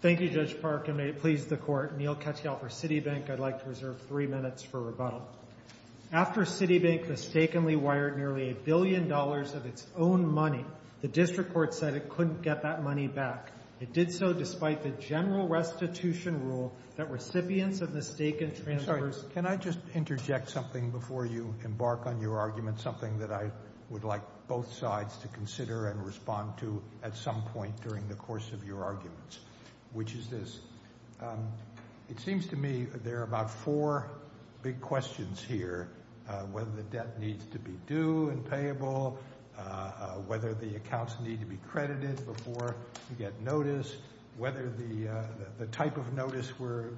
Thank you, Judge Park, and may it please the Court, Neal Katyal for Citibank. I'd like to reserve three minutes for rebuttal. After Citibank mistakenly wired nearly a billion dollars of its own money, the District Court said it couldn't get that money back. It did so despite the general restitution rule that recipients of mistaken transfers— whether the debt needs to be due and payable, whether the accounts need to be credited before you get notice, whether the type of notice we're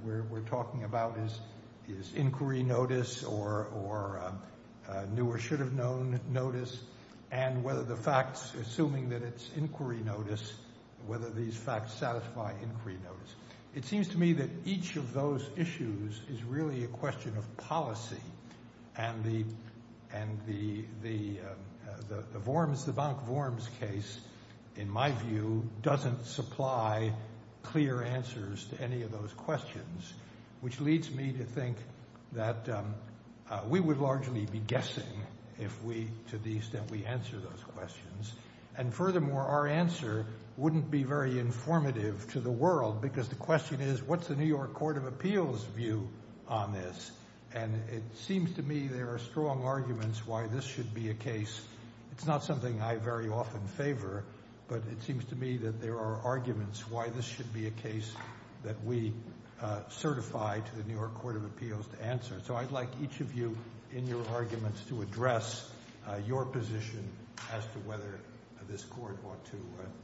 talking about is inquiry notice or new or should have known notice, and whether the facts—assuming that it's inquiry notice—whether these facts satisfy inquiry notice. It seems to me that each of those issues is really a question of policy, and the Vorms—Citibank Vorms case, in my view, doesn't supply clear answers to any of those questions, which leads me to think that we would largely be guessing if we—to the extent we answer those questions. And furthermore, our answer wouldn't be very informative to the world because the question is, what's the New York Court of Appeals' view on this? And it seems to me there are strong arguments why this should be a case. It's not something I very often favor, but it seems to me that there are arguments why this should be a case that we certify to the New York Court of Appeals to answer. So I'd like each of you in your arguments to address your position as to whether this Court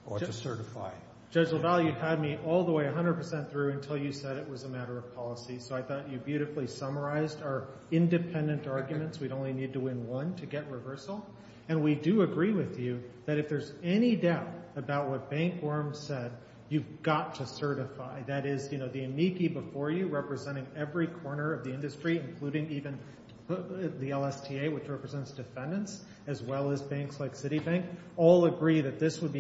ought to certify. Judge LaValle, you had me all the way 100 percent through until you said it was a matter of policy, so I thought you beautifully summarized our independent arguments. We'd only need to win one to get reversal. And we do agree with you that if there's any doubt about what Bank Vorms said, you've got to certify. That is, you know, the amici before you representing every corner of the industry, including even the LSTA, which represents defendants, as well as banks like Citibank, all agree that this would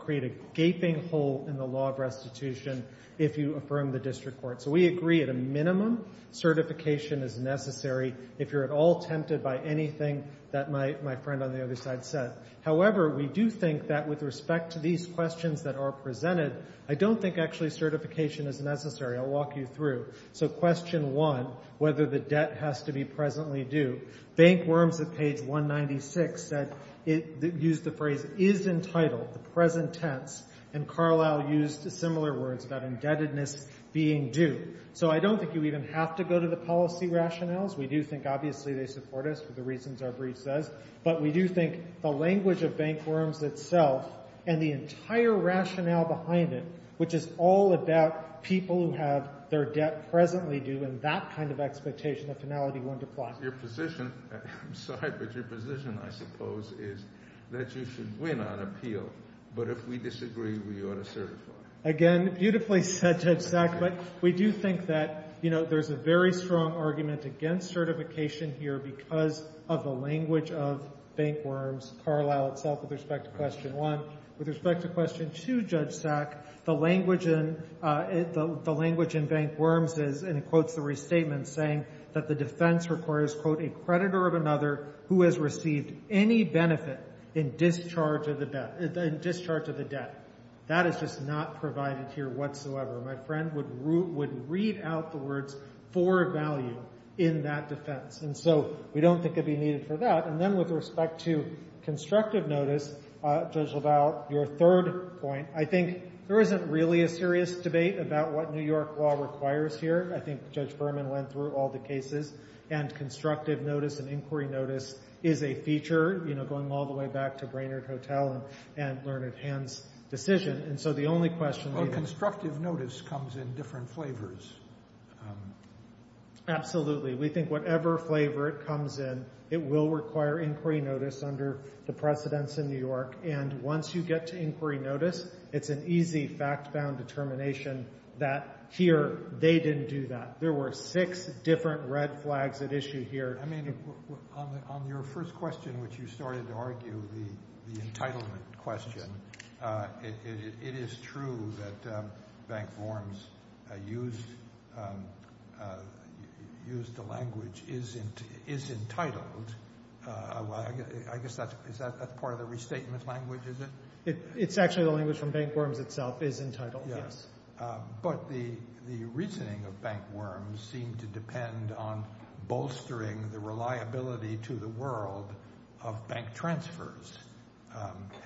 create a gaping hole in the law of restitution if you affirm the district court. So we agree at a minimum certification is necessary if you're at all tempted by anything that my friend on the other side said. However, we do think that with respect to these questions that are presented, I don't think actually certification is necessary. I'll walk you through. So question one, whether the debt has to be presently due. Bank Vorms at page 196 said, used the phrase, is entitled, the present tense, and Carlisle used similar words about indebtedness being due. So I don't think you even have to go to the policy rationales. We do think obviously they support us for the reasons our brief says. But we do think the language of Bank Vorms itself and the entire rationale behind it, which is all about people who have their debt presently due and that kind of expectation of finality one to plot. Your position, I'm sorry, but your position, I suppose, is that you should win on appeal. But if we disagree, we ought to certify. Again, beautifully said, Judge Sack. But we do think that, you know, there's a very strong argument against certification here because of the language of Bank Vorms, Carlisle itself, with respect to question one. With respect to question two, Judge Sack, the language in Bank Vorms is, and it quotes the restatement, saying that the defense requires, quote, a creditor of another who has received any benefit in discharge of the debt. That is just not provided here whatsoever. My friend would read out the words for value in that defense. And so we don't think it would be needed for that. And then with respect to constructive notice, Judge LaValle, your third point, I think there isn't really a serious debate about what New York law requires here. I think Judge Berman went through all the cases. And constructive notice and inquiry notice is a feature, you know, going all the way back to Brainerd Hotel and Lerner Hand's decision. And so the only question we have— Well, constructive notice comes in different flavors. Absolutely. We think whatever flavor it comes in, it will require inquiry notice under the precedents in New York. And once you get to inquiry notice, it's an easy fact-bound determination that here they didn't do that. There were six different red flags at issue here. I mean, on your first question, which you started to argue, the entitlement question, it is true that bank worms used the language is entitled. I guess that's part of the restatement language, is it? It's actually the language from bank worms itself is entitled, yes. But the reasoning of bank worms seemed to depend on bolstering the reliability to the world of bank transfers,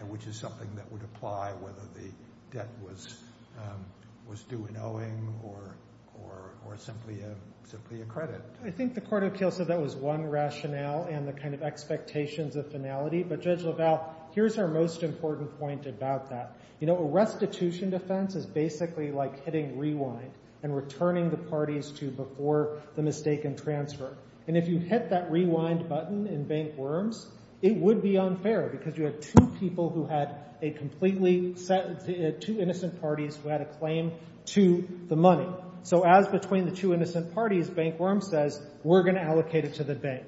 which is something that would apply whether the debt was due in owing or simply a credit. I think the Court of Appeals said that was one rationale and the kind of expectations of finality. But, Judge LaValle, here's our most important point about that. You know, a restitution defense is basically like hitting rewind and returning the parties to before the mistaken transfer. And if you hit that rewind button in bank worms, it would be unfair because you have two people who had a completely—two innocent parties who had a claim to the money. So as between the two innocent parties, bank worms says, we're going to allocate it to the bank.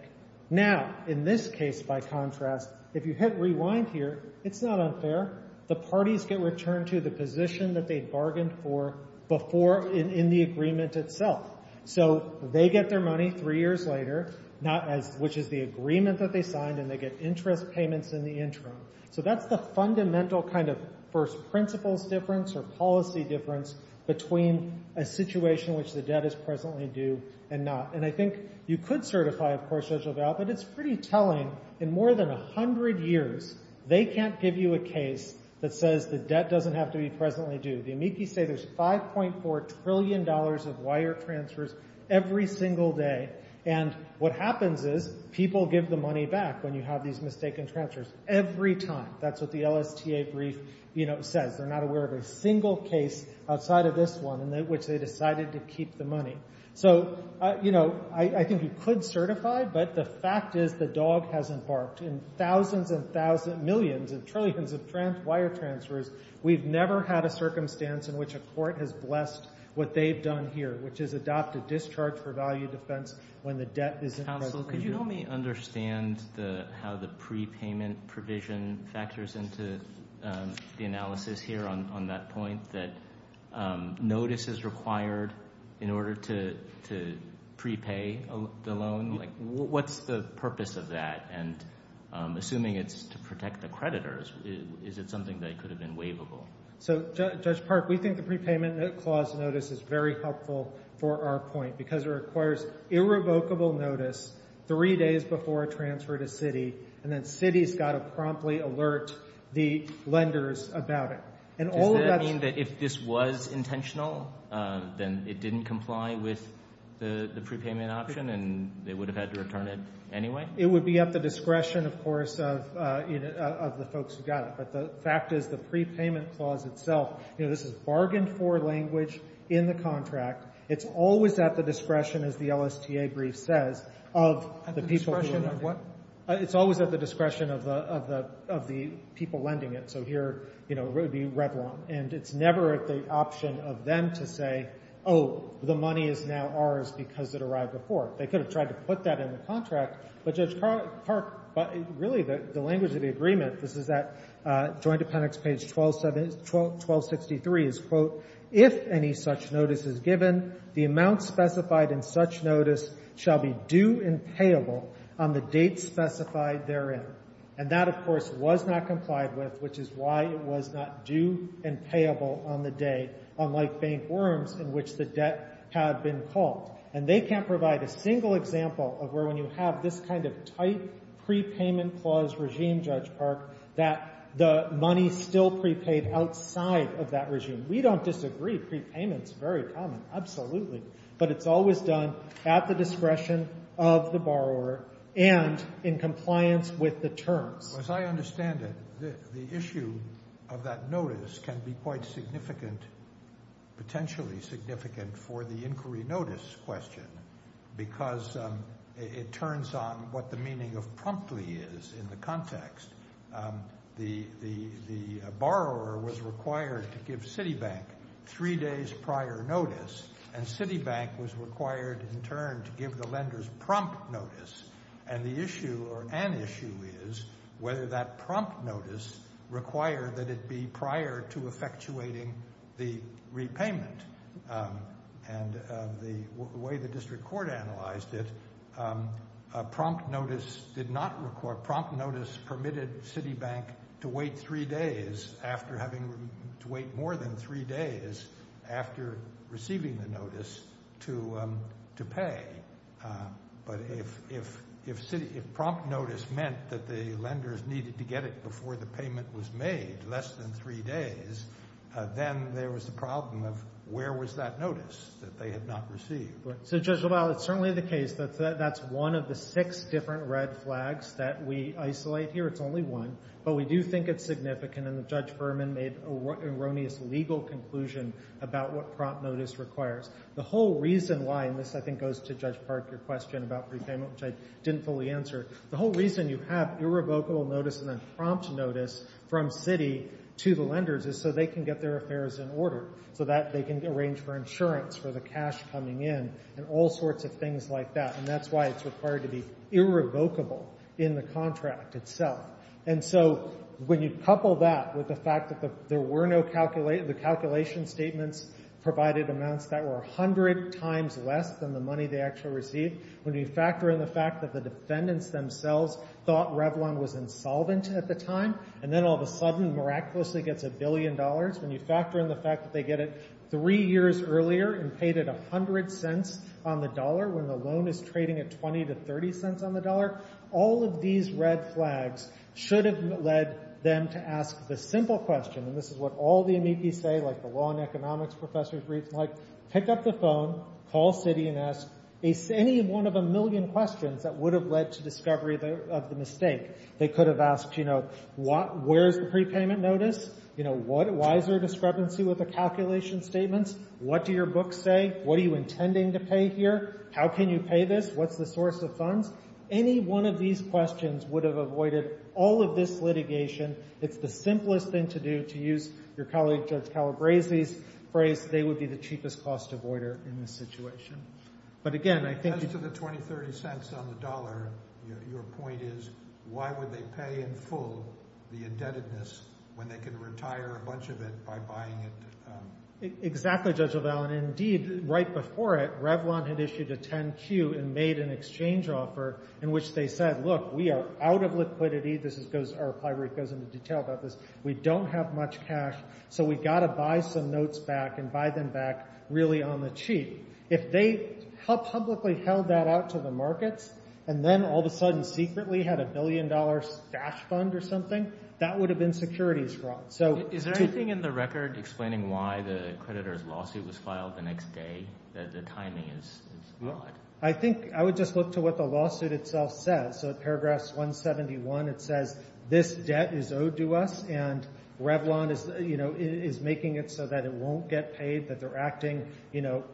Now, in this case, by contrast, if you hit rewind here, it's not unfair. The parties get returned to the position that they bargained for before in the agreement itself. So they get their money three years later, not as—which is the agreement that they signed, and they get interest payments in the interim. So that's the fundamental kind of first principles difference or policy difference between a situation which the debt is presently due and not. And I think you could certify, of course, Judge LaValle, but it's pretty telling. In more than 100 years, they can't give you a case that says the debt doesn't have to be presently due. The amici say there's $5.4 trillion of wire transfers every single day. And what happens is people give the money back when you have these mistaken transfers every time. That's what the LSTA brief, you know, says. They're not aware of a single case outside of this one in which they decided to keep the money. So, you know, I think you could certify, but the fact is the dog has embarked. In thousands and thousands—millions and trillions of wire transfers, we've never had a circumstance in which a court has blessed what they've done here, which is adopt a discharge for value defense when the debt is— Counsel, could you help me understand how the prepayment provision factors into the analysis here on that point, that notice is required in order to prepay the loan? What's the purpose of that? And assuming it's to protect the creditors, is it something that could have been waivable? So, Judge Park, we think the prepayment clause notice is very helpful for our point because it requires irrevocable notice three days before a transfer to Citi, and then Citi's got to promptly alert the lenders about it. Does that mean that if this was intentional, then it didn't comply with the prepayment option and they would have had to return it anyway? It would be at the discretion, of course, of the folks who got it. But the fact is the prepayment clause itself, you know, this is bargained-for language in the contract. It's always at the discretion, as the LSTA brief says, of the people who are lending it. At the discretion of what? It's always at the discretion of the people lending it. So here, you know, it would be Revlon. And it's never at the option of them to say, oh, the money is now ours because it arrived before. They could have tried to put that in the contract, but Judge Park, really the language of the agreement, this is at Joint Appendix page 1263, is, quote, if any such notice is given, the amount specified in such notice shall be due and payable on the date specified therein. And that, of course, was not complied with, which is why it was not due and payable on the day, unlike faint worms in which the debt had been called. And they can't provide a single example of where when you have this kind of tight prepayment clause regime, Judge Park, that the money is still prepaid outside of that regime. We don't disagree. Prepayment is very common, absolutely. But it's always done at the discretion of the borrower and in compliance with the terms. As I understand it, the issue of that notice can be quite significant, potentially significant for the inquiry notice question because it turns on what the meaning of promptly is in the context. The borrower was required to give Citibank three days prior notice, and Citibank was required in turn to give the lenders prompt notice. And the issue or an issue is whether that prompt notice required that it be prior to effectuating the repayment. And the way the district court analyzed it, a prompt notice did not require, a prompt notice permitted Citibank to wait three days after having, to wait more than three days after receiving the notice to pay. But if prompt notice meant that the lenders needed to get it before the payment was made less than three days, then there was a problem of where was that notice that they had not received. So, Judge LaValle, it's certainly the case that that's one of the six different red flags that we isolate here. It's only one. But we do think it's significant, and Judge Berman made an erroneous legal conclusion about what prompt notice requires. The whole reason why, and this, I think, goes to Judge Park, your question about repayment, which I didn't fully answer. The whole reason you have irrevocable notice and then prompt notice from Citi to the lenders is so they can get their affairs in order, so that they can arrange for insurance for the cash coming in and all sorts of things like that. And that's why it's required to be irrevocable in the contract itself. And so when you couple that with the fact that there were no calculations, the calculation statements provided amounts that were 100 times less than the money they actually received, when you factor in the fact that the defendants themselves thought Revlon was insolvent at the time, and then all of a sudden miraculously gets a billion dollars, when you factor in the fact that they get it three years earlier and paid it 100 cents on the dollar when the loan is trading at 20 to 30 cents on the dollar, all of these red flags should have led them to ask the simple question, and this is what all the amici say, like the law and economics professors read, like pick up the phone, call Citi, and ask any one of a million questions that would have led to discovery of the mistake. They could have asked, you know, where's the prepayment notice? You know, why is there a discrepancy with the calculation statements? What do your books say? What are you intending to pay here? How can you pay this? What's the source of funds? Any one of these questions would have avoided all of this litigation. It's the simplest thing to do, to use your colleague Judge Calabresi's phrase, they would be the cheapest cost avoider in this situation. But again, I think— As to the 20, 30 cents on the dollar, your point is why would they pay in full the indebtedness when they could retire a bunch of it by buying it? Exactly, Judge LaValle. And indeed, right before it, Revlon had issued a 10-Q and made an exchange offer in which they said, look, we are out of liquidity. This goes—our library goes into detail about this. We don't have much cash, so we've got to buy some notes back and buy them back really on the cheap. If they publicly held that out to the markets and then all of a sudden secretly had a billion-dollar stash fund or something, that would have been securities fraud. Is there anything in the record explaining why the creditor's lawsuit was filed the next day? The timing is odd. I think I would just look to what the lawsuit itself says. So in paragraphs 171, it says this debt is owed to us and Revlon is making it so that it won't get paid, that they're acting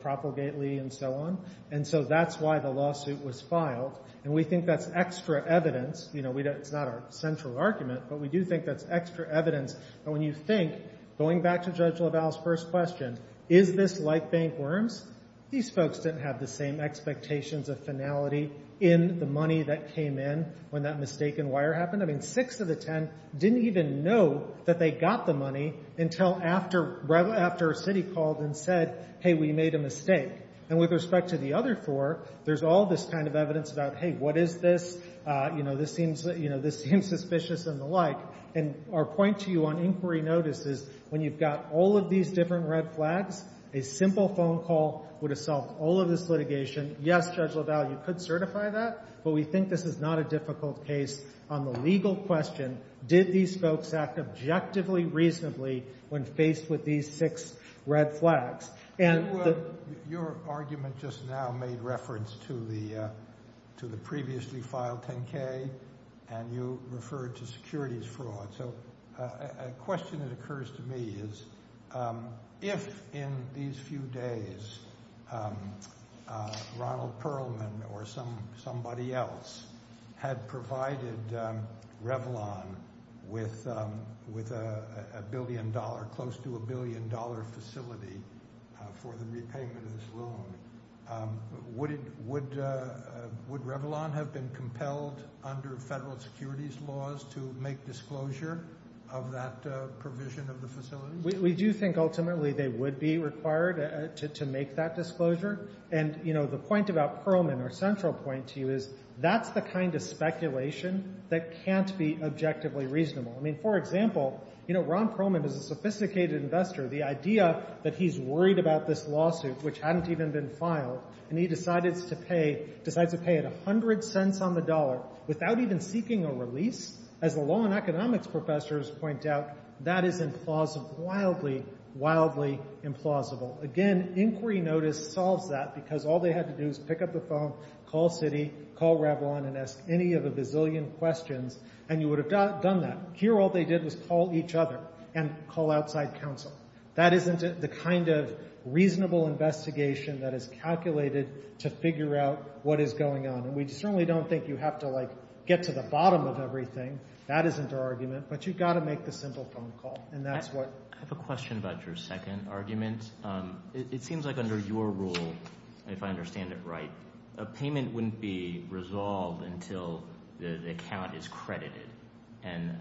propagately and so on. And so that's why the lawsuit was filed. And we think that's extra evidence. It's not our central argument, but we do think that's extra evidence. And when you think, going back to Judge LaValle's first question, is this like bank worms? These folks didn't have the same expectations of finality in the money that came in when that mistaken wire happened. I mean, six of the ten didn't even know that they got the money until after Revlon, after Citi called and said, hey, we made a mistake. And with respect to the other four, there's all this kind of evidence about, hey, what is this? You know, this seems suspicious and the like. And our point to you on inquiry notice is when you've got all of these different red flags, a simple phone call would have solved all of this litigation. Yes, Judge LaValle, you could certify that, but we think this is not a difficult case on the legal question, did these folks act objectively reasonably when faced with these six red flags? And the— Your argument just now made reference to the previously filed 10-K and you referred to securities fraud. So a question that occurs to me is if in these few days Ronald Perlman or somebody else had provided Revlon with a billion-dollar, close to a billion-dollar facility for the repayment of this loan, would Revlon have been compelled under federal securities laws to make disclosure of that provision of the facility? We do think ultimately they would be required to make that disclosure. And, you know, the point about Perlman, our central point to you, is that's the kind of speculation that can't be objectively reasonable. I mean, for example, you know, Ron Perlman is a sophisticated investor. The idea that he's worried about this lawsuit, which hadn't even been filed, and he decides to pay it 100 cents on the dollar without even seeking a release, as the law and economics professors point out, that is wildly, wildly implausible. Again, inquiry notice solves that because all they had to do was pick up the phone, call Citi, call Revlon, and ask any of the bazillion questions, and you would have done that. Here all they did was call each other and call outside counsel. That isn't the kind of reasonable investigation that is calculated to figure out what is going on. And we certainly don't think you have to, like, get to the bottom of everything. That isn't our argument. But you've got to make the simple phone call, and that's what. I have a question about your second argument. It seems like under your rule, if I understand it right, a payment wouldn't be resolved until the account is credited. And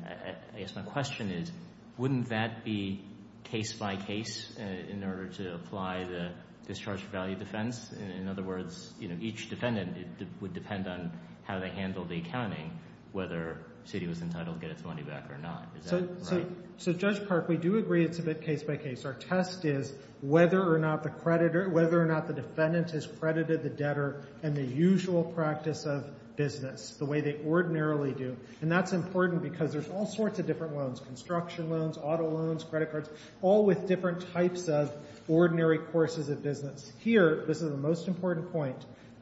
I guess my question is, wouldn't that be case-by-case in order to apply the discharge of value defense? In other words, each defendant would depend on how they handled the accounting, whether Citi was entitled to get its money back or not. Is that right? So, Judge Park, we do agree it's a bit case-by-case. Our test is whether or not the defendant has credited the debtor in the usual practice of business, the way they ordinarily do. And that's important because there's all sorts of different loans, construction loans, auto loans, credit cards, all with different types of ordinary courses of business. Here, this is the most important point,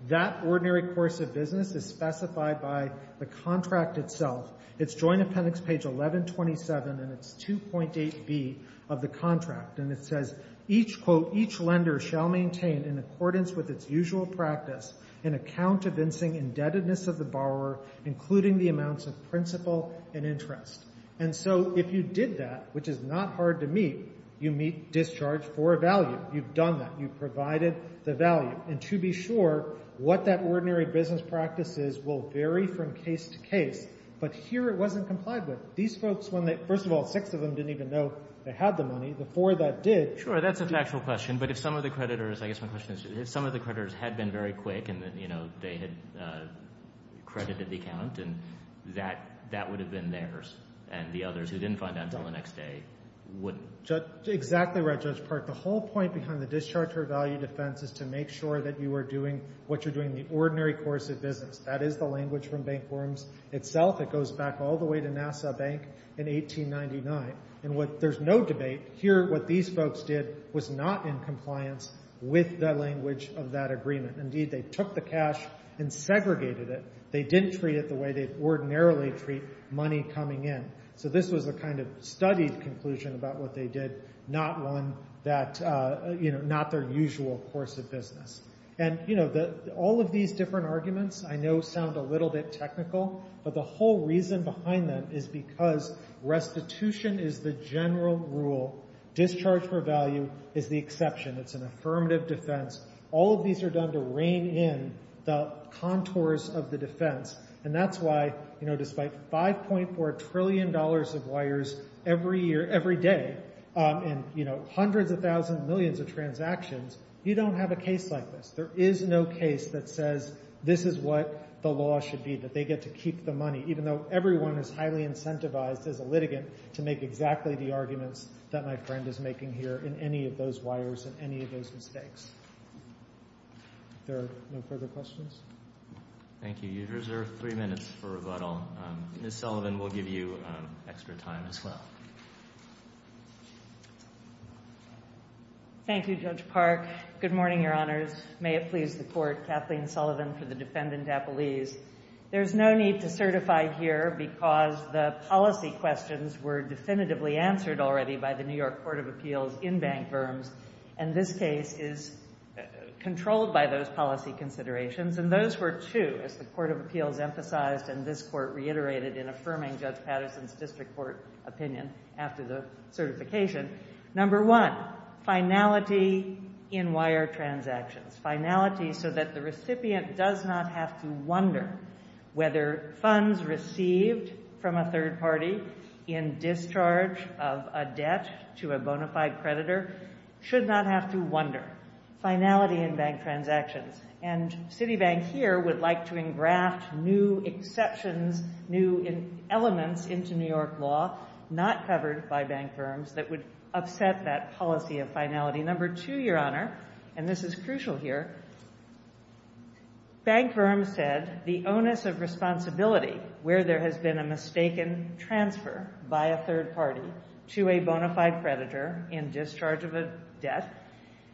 that ordinary course of business is specified by the contract itself. It's Joint Appendix page 1127, and it's 2.8b of the contract. And it says, each, quote, each lender shall maintain in accordance with its usual practice an account evincing indebtedness of the borrower, including the amounts of principal and interest. And so if you did that, which is not hard to meet, you meet discharge for a value. You've done that. You've provided the value. And to be sure, what that ordinary business practice is will vary from case to case. But here it wasn't complied with. These folks, first of all, six of them didn't even know they had the money. The four that did. Sure, that's a factual question. But if some of the creditors, I guess my question is, if some of the creditors had been very quick and they had credited the account, that would have been theirs. And the others who didn't find out until the next day wouldn't. Exactly right, Judge Park. The whole point behind the discharge for a value defense is to make sure that you are doing what you're doing in the ordinary course of business. That is the language from Bank Worms itself. It goes back all the way to NASA Bank in 1899. There's no debate. Here what these folks did was not in compliance with the language of that agreement. Indeed, they took the cash and segregated it. They didn't treat it the way they ordinarily treat money coming in. So this was a kind of studied conclusion about what they did, not their usual course of business. All of these different arguments I know sound a little bit technical, but the whole reason behind them is because restitution is the general rule. Discharge for a value is the exception. It's an affirmative defense. All of these are done to rein in the contours of the defense, and that's why despite $5.4 trillion of wires every day and hundreds of thousands, millions of transactions, you don't have a case like this. There is no case that says this is what the law should be, that they get to keep the money, even though everyone is highly incentivized as a litigant to make exactly the arguments that my friend is making here in any of those wires and any of those mistakes. Are there no further questions? Thank you. You reserve three minutes for rebuttal. Ms. Sullivan will give you extra time as well. Thank you, Judge Park. Good morning, Your Honors. May it please the Court. Kathleen Sullivan for the Defendant Appellees. There is no need to certify here because the policy questions were definitively answered already by the New York Court of Appeals in bank firms, and this case is controlled by those policy considerations, and those were two, as the Court of Appeals emphasized and this Court reiterated in affirming Judge Patterson's district court opinion after the certification. Number one, finality in wire transactions, finality so that the recipient does not have to wonder whether funds received from a third party in discharge of a debt to a bona fide creditor should not have to wonder. Finality in bank transactions, and Citibank here would like to engraft new exceptions, new elements into New York law not covered by bank firms that would upset that policy of finality. Number two, Your Honor, and this is crucial here, bank firms said the onus of responsibility where there has been a mistaken transfer by a third party to a bona fide creditor in discharge of a debt,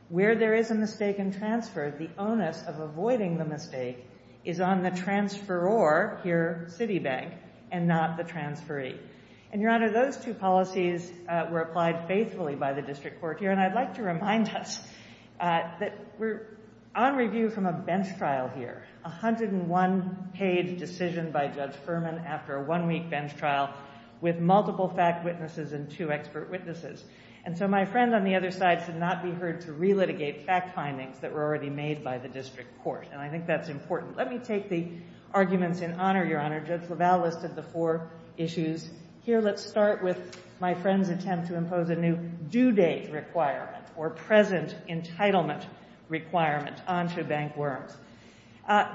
where there is a mistaken transfer, the onus of avoiding the mistake is on the transferor here, Citibank, and not the transferee. And, Your Honor, those two policies were applied faithfully by the district court here, and I'd like to remind us that we're on review from a bench trial here, a 101-page decision by Judge Furman after a one-week bench trial with multiple fact witnesses and two expert witnesses. And so my friend on the other side should not be heard to relitigate fact findings that were already made by the district court, and I think that's important. Let me take the arguments in honor, Your Honor. Judge LaValle listed the four issues. Here, let's start with my friend's attempt to impose a new due date requirement or present entitlement requirement onto bank worms.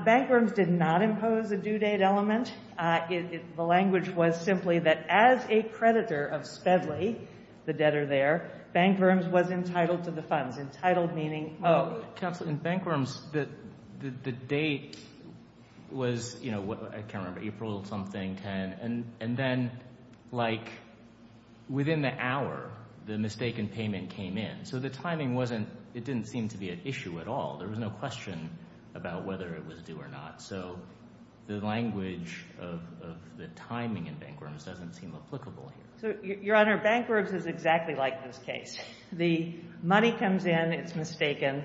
Bank worms did not impose a due date element. The language was simply that as a creditor of Spedley, the debtor there, bank worms was entitled to the funds. Entitled meaning... Oh, counsel, in bank worms, the date was, you know, I can't remember, April something, 10, and then, like, within the hour, the mistaken payment came in. So the timing wasn't... It didn't seem to be an issue at all. There was no question about whether it was due or not. So the language of the timing in bank worms doesn't seem applicable here. Your Honor, bank worms is exactly like this case. The money comes in, it's mistaken.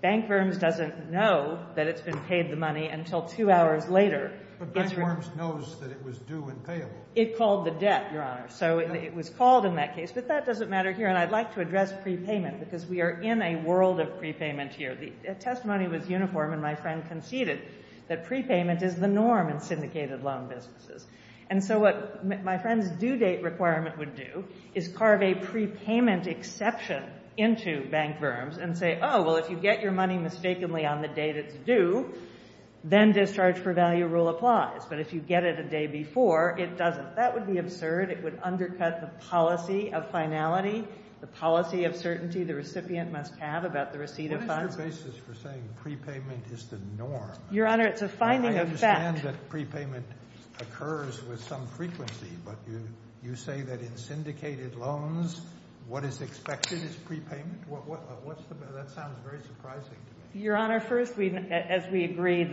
Bank worms doesn't know that it's been paid the money until two hours later. But bank worms knows that it was due and payable. It called the debt, Your Honor. So it was called in that case, but that doesn't matter here, and I'd like to address prepayment because we are in a world of prepayment here. The testimony was uniform, and my friend conceded that prepayment is the norm in syndicated loan businesses. And so what my friend's due date requirement would do is carve a prepayment exception into bank worms and say, oh, well, if you get your money mistakenly on the date it's due, then discharge for value rule applies. But if you get it a day before, it doesn't. That would be absurd. It would undercut the policy of finality, the policy of certainty the recipient must have about the receipt of funds. What is your basis for saying prepayment is the norm? Your Honor, it's a finding of fact. I understand that prepayment occurs with some frequency, but you say that in syndicated loans what is expected is prepayment? What's the basis? That sounds very surprising to me. Your Honor, first, as we agree,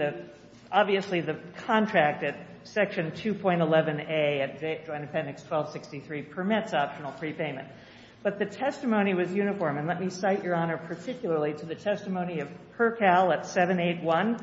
obviously the contract at Section 2.11a of Joint Appendix 1263 permits optional prepayment. But the testimony was uniform, and let me cite, Your Honor, particularly to the testimony of Percal at 781.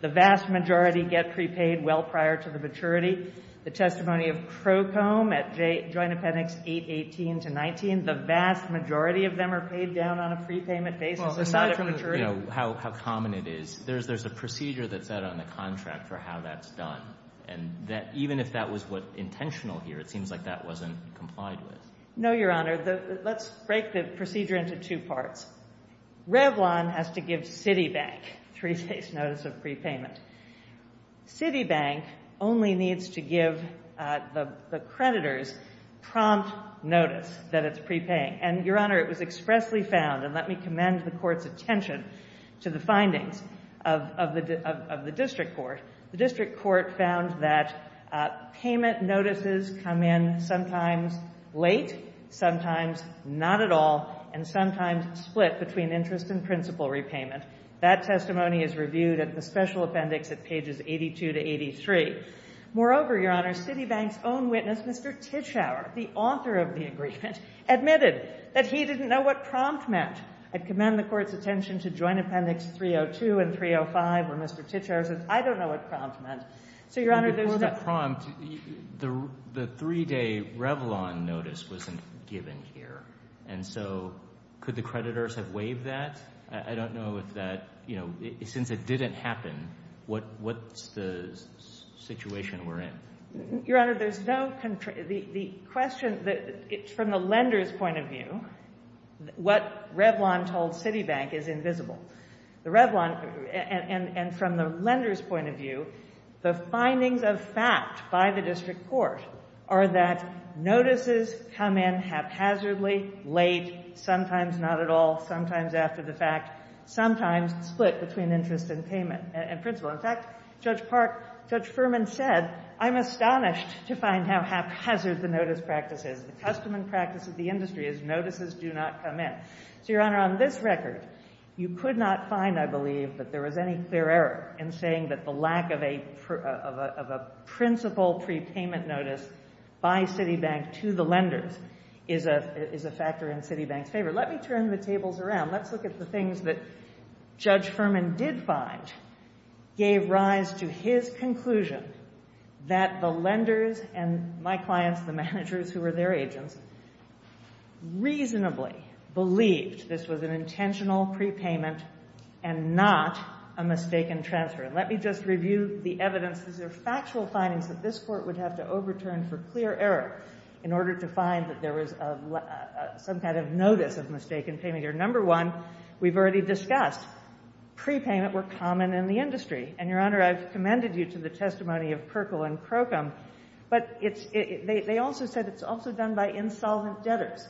The vast majority get prepaid well prior to the maturity. The testimony of Crocombe at Joint Appendix 818-19, the vast majority of them are paid down on a prepayment basis aside from maturity. Well, aside from, you know, how common it is, there's a procedure that's set on the contract for how that's done. And even if that was intentional here, it seems like that wasn't complied with. No, Your Honor. Let's break the procedure into two parts. Revlon has to give Citibank three days' notice of prepayment. Citibank only needs to give the creditors prompt notice that it's prepaying. And, Your Honor, it was expressly found, and let me commend the Court's attention to the findings of the district court. The district court found that payment notices come in sometimes late, sometimes not at all, and sometimes split between interest and principal repayment. That testimony is reviewed at the special appendix at pages 82 to 83. Moreover, Your Honor, Citibank's own witness, Mr. Titschauer, the author of the agreement, admitted that he didn't know what prompt meant. I commend the Court's attention to Joint Appendix 302 and 305 where Mr. Titschauer says, I don't know what prompt meant. So, Your Honor, those two. Without prompt, the three-day Revlon notice wasn't given here. And so could the creditors have waived that? I don't know if that, you know, since it didn't happen, what's the situation we're in? Your Honor, there's no, the question, from the lender's point of view, what Revlon told Citibank is invisible. The Revlon, and from the lender's point of view, the findings of fact by the district court are that notices come in haphazardly, late, sometimes not at all, sometimes after the fact, sometimes split between interest and payment and principal. In fact, Judge Ferman said, I'm astonished to find how haphazard the notice practice is. The custom and practice of the industry is notices do not come in. So, Your Honor, on this record, you could not find, I believe, that there was any clear error in saying that the lack of a principal prepayment notice by Citibank to the lenders is a factor in Citibank's favor. Let me turn the tables around. Let's look at the things that Judge Ferman did find gave rise to his conclusion that the lenders and my clients, the managers who were their agents, reasonably believed this was an intentional prepayment and not a mistaken transfer. And let me just review the evidence. These are factual findings that this court would have to overturn for clear error in order to find that there was some kind of notice of mistaken payment here. Number one, we've already discussed, prepayment were common in the industry. And, Your Honor, I've commended you to the testimony of Perkle and Crocombe. But they also said it's also done by insolvent debtors.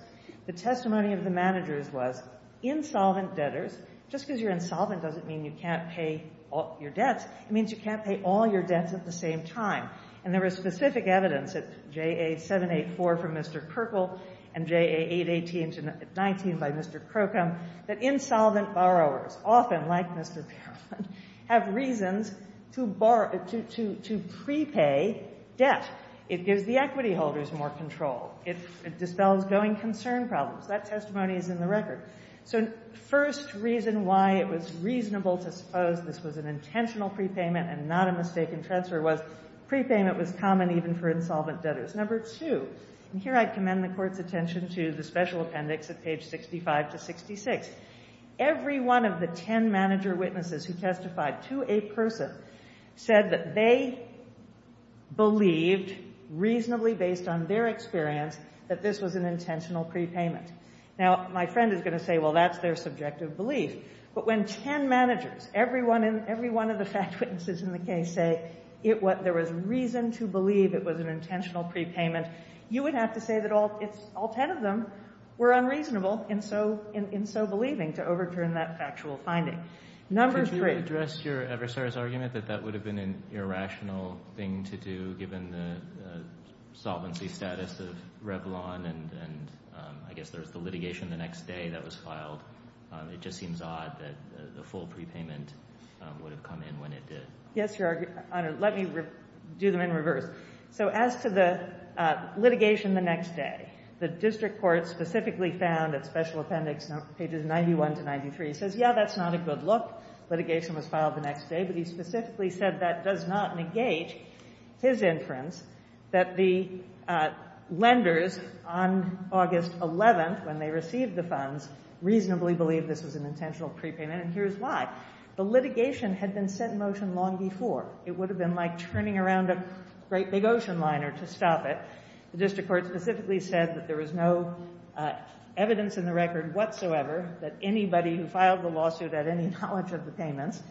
The testimony of the managers was insolvent debtors just because you're insolvent doesn't mean you can't pay your debts. It means you can't pay all your debts at the same time. And there was specific evidence at JA 784 from Mr. Perkle and JA 818-19 by Mr. Crocombe that insolvent borrowers, often like Mr. Perkle, have reasons to prepay debt. It gives the equity holders more control. It dispels going concern problems. That testimony is in the record. First reason why it was reasonable to suppose this was an intentional prepayment and not a mistaken transfer was prepayment was common even for insolvent debtors. Number two, and here I commend the Court's attention to the special appendix at page 65 to 66. Every one of the 10 manager witnesses who testified to a person said that they believed, reasonably based on their experience, that this was an intentional prepayment. Now, my friend is going to say, well, that's their subjective belief. But when 10 managers, every one of the fact witnesses in the case, say there was reason to believe it was an intentional prepayment, you would have to say that all 10 of them were unreasonable in so believing to overturn that factual finding. Number three. Could you address your adversary's argument that that would have been an irrational thing to do given the solvency status of Revlon and I guess there's the litigation the next day that was filed. It just seems odd that the full prepayment would have come in when it did. Yes, Your Honor. Let me do them in reverse. So as to the litigation the next day, the district court specifically found at special appendix pages 91 to 93, says, yeah, that's not a good look. Litigation was filed the next day. But he specifically said that does not negate his inference that the lenders on August 11th when they received the funds reasonably believed this was an intentional prepayment. And here's why. The litigation had been set in motion long before. It would have been like turning around a great big ocean liner to stop it. The district court specifically said that there was no evidence in the record whatsoever that anybody who filed the lawsuit had any knowledge of the payments.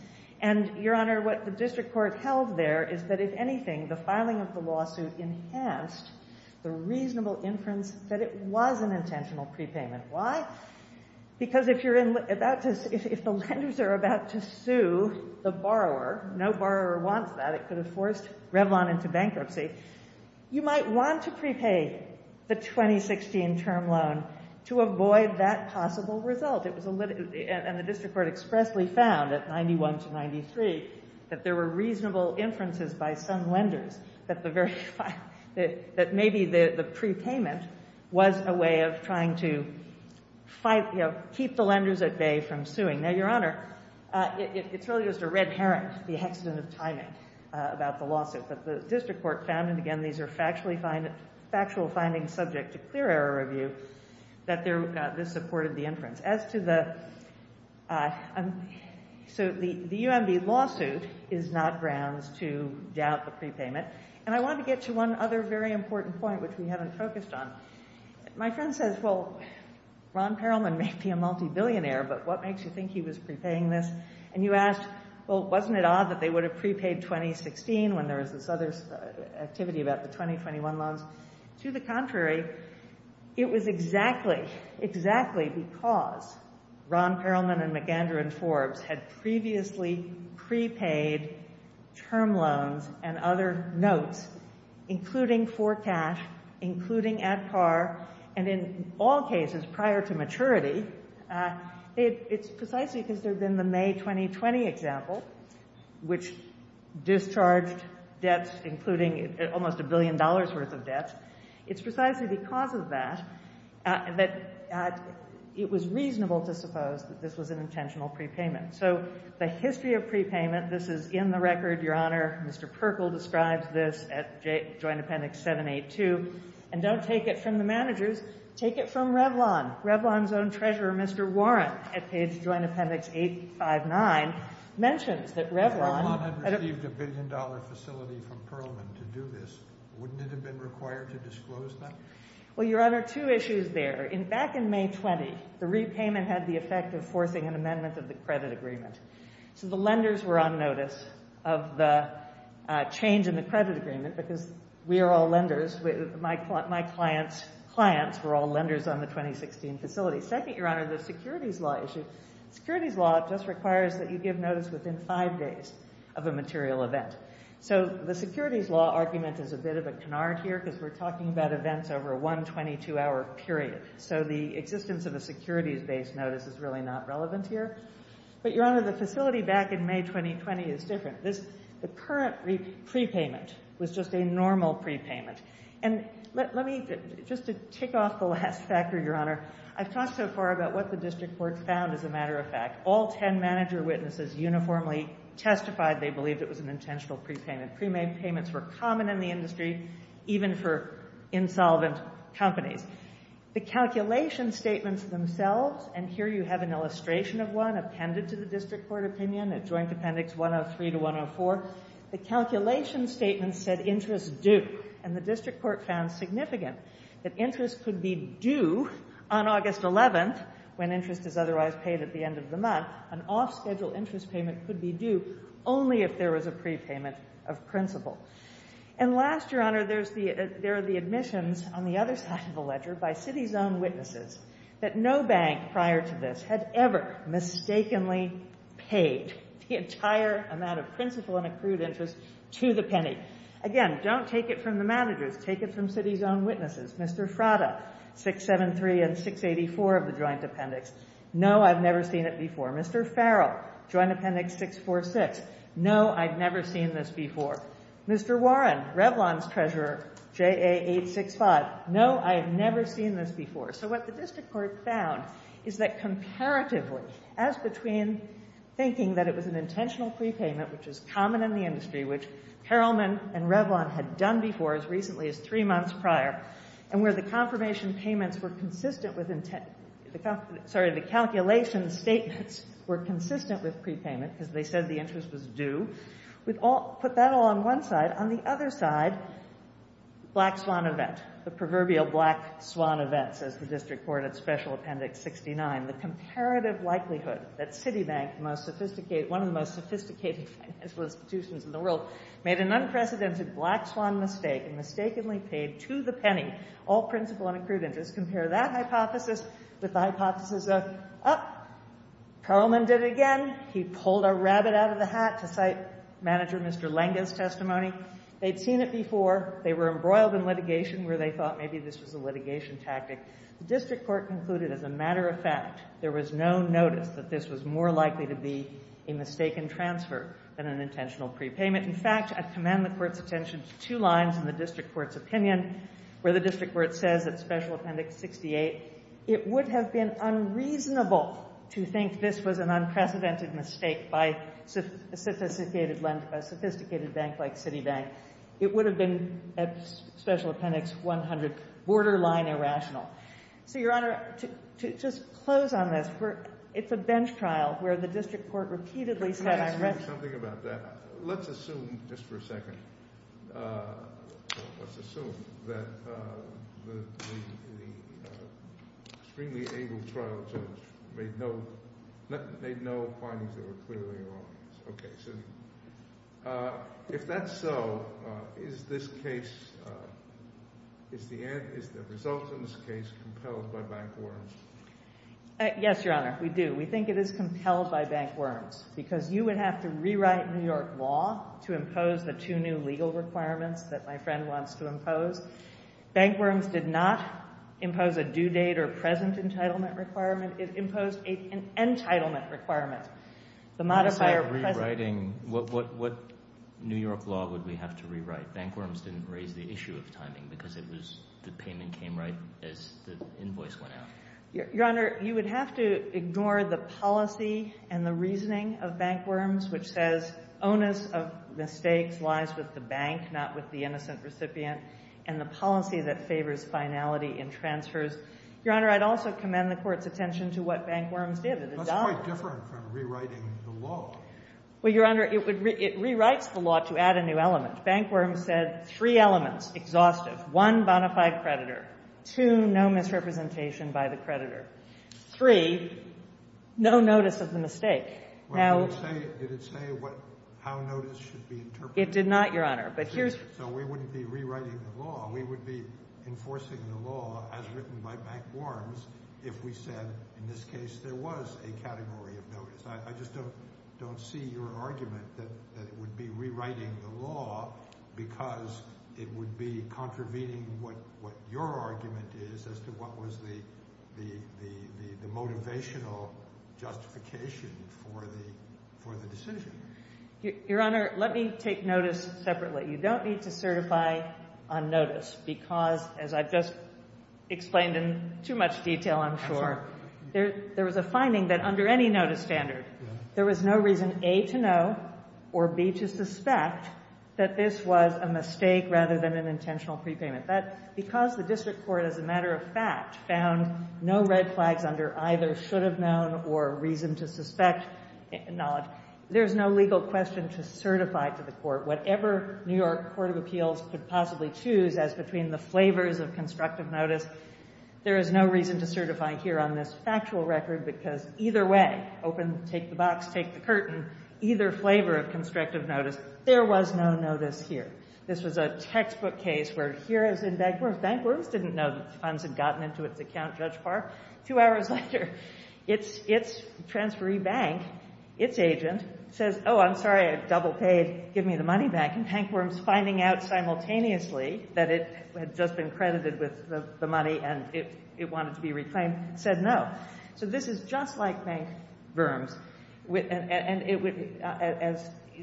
And, Your Honor, what the district court held there is that, if anything, the filing of the lawsuit enhanced the reasonable inference that it was an intentional prepayment. Why? Because if the lenders are about to sue the borrower, no borrower wants that. It could have forced Revlon into bankruptcy. You might want to prepay the 2016 term loan to avoid that possible result. And the district court expressly found at 91 to 93 that there were reasonable inferences by some lenders that maybe the prepayment was a way of trying to keep the lenders at bay from suing. Now, Your Honor, it's really just a red herring, the hexagon of timing about the lawsuit. But the district court found, and again, these are factual findings subject to clear error review, that this supported the inference. As to the UMB lawsuit is not grounds to doubt the prepayment. And I want to get to one other very important point, which we haven't focused on. My friend says, well, Ron Perelman may be a multi-billionaire, but what makes you think he was prepaying this? And you ask, well, wasn't it odd that they would have prepaid 2016 when there was this other activity about the 2021 loans? To the contrary, it was exactly, exactly because Ron Perelman and McGendron Forbes had previously prepaid term loans and other notes, including for cash, including at par, and in all cases prior to maturity. It's precisely because there had been the May 2020 example, which discharged debts, including almost a billion dollars worth of debts. It's precisely because of that that it was reasonable to suppose that this was an intentional prepayment. So the history of prepayment, this is in the record, Your Honor. Mr. Perkle describes this at Joint Appendix 782. And don't take it from the managers. Take it from Revlon. Revlon's own treasurer, Mr. Warren, at page Joint Appendix 859, mentions that Revlon had received a billion dollar facility from Perelman to do this. Wouldn't it have been required to disclose that? Well, Your Honor, two issues there. Back in May 20, the repayment had the effect of forcing an amendment of the credit agreement. So the lenders were on notice of the change in the credit agreement because we are all lenders. My clients' clients were all lenders on the 2016 facility. Second, Your Honor, the securities law issue. Securities law just requires that you give notice within five days of a material event. So the securities law argument is a bit of a canard here because we're talking about events over a 122-hour period. So the existence of a securities-based notice is really not relevant here. But Your Honor, the facility back in May 2020 is different. The current prepayment was just a normal prepayment. And let me, just to tick off the last factor, Your Honor, I've talked so far about what the district court found, as a matter of fact. All 10 manager witnesses uniformly testified they believed it was an intentional prepayment. Prepaid payments were common in the industry even for insolvent companies. The calculation statements themselves, and here you have an illustration of one appended to the district court opinion at Joint Appendix 103 to 104. The calculation statement said interest due. And the district court found significant that interest could be due on August 11th when interest is otherwise paid at the end of the month. Now, an off-schedule interest payment could be due only if there was a prepayment of principal. And last, Your Honor, there are the admissions on the other side of the ledger by city's own witnesses that no bank prior to this had ever mistakenly paid the entire amount of principal and accrued interest to the penny. Again, don't take it from the managers. Take it from city's own witnesses. Mr. Frada, 673 and 684 of the Joint Appendix. No, I've never seen it before. Mr. Farrell, Joint Appendix 646. No, I've never seen this before. Mr. Warren, Revlon's treasurer, JA 865. No, I've never seen this before. So what the district court found is that comparatively, as between thinking that it was an intentional prepayment, which is common in the industry, which Perelman and Revlon had done before as recently as three months prior, and where the confirmation payments were consistent with intent, sorry, the calculation statements were consistent with prepayment because they said the interest was due. Put that along one side. On the other side, black swan event. The proverbial black swan event, says the district court at Special Appendix 69. The comparative likelihood that Citibank, one of the most sophisticated financial institutions in the world, made an unprecedented black swan mistake and mistakenly paid to the penny all principal and accrued interest. Compare that hypothesis with the hypothesis of, oh, Perelman did it again. He pulled a rabbit out of the hat to cite manager Mr. Langen's testimony. They'd seen it before. They were embroiled in litigation where they thought maybe this was a litigation tactic. The district court concluded, as a matter of fact, there was no notice that this was more likely to be a mistaken transfer than an intentional prepayment. In fact, I commend the court's attention to two lines in the district court's opinion, where the district court says at Special Appendix 68, it would have been unreasonable to think this was an unprecedented mistake by a sophisticated bank like Citibank. It would have been, at Special Appendix 100, borderline irrational. So Your Honor, to just close on this, it's a bench trial where the district court repeatedly said I read it. Let's assume, just for a second, let's assume that the extremely able trial judge made no findings that were clearly wrong. If that's so, is the result of this case compelled by bank worms? Yes, Your Honor. We do. We think it is compelled by bank worms, because you would have to rewrite New York law to impose the two new legal requirements that my friend wants to impose. Bank worms did not impose a due date or present entitlement requirement. It imposed an entitlement requirement. The modifier present. What New York law would we have to rewrite? Bank worms didn't raise the issue of timing, Your Honor, you would have to ignore the policy and the reasoning of bank worms, which says onus of mistakes lies with the bank, not with the innocent recipient, and the policy that favors finality in transfers. Your Honor, I'd also commend the court's attention to what bank worms did. It adopted. That's quite different from rewriting the law. Well, Your Honor, it rewrites the law to add a new element. Bank worms said three elements, exhaustive. One, bona fide creditor. Two, no misrepresentation by the creditor. Three, no notice of the mistake. Did it say how notice should be interpreted? It did not, Your Honor. So we wouldn't be rewriting the law. We would be enforcing the law as written by bank worms if we said, in this case, there was a category of notice. I just don't see your argument that it would be rewriting the law because it would be contravening what your argument is as to what was the motivational justification for the decision. Your Honor, let me take notice separately. You don't need to certify on notice because, as I've just explained in too much detail, I'm sure, there was a finding that under any notice standard, there was no reason, A, to know or, B, to suspect that this was a mistake rather than an intentional prepayment. But because the district court, as a matter of fact, found no red flags under either should have known or reason to suspect knowledge, there is no legal question to certify to the court. Whatever New York Court of Appeals could possibly choose as between the flavors of constructive notice, there is no reason to certify here on this factual record because either way, open, take the box, take the curtain, either flavor of constructive notice, there was no notice here. This was a textbook case where here, as in Bank Worms, Bank Worms didn't know that the funds had gotten into its account, Judge Parr. Two hours later, its transferee bank, its agent, says, oh, I'm sorry, I double paid. Give me the money back. And Bank Worms, finding out simultaneously that it had just been credited with the money and it wanted to be reclaimed, said no. So this is just like Bank Worms.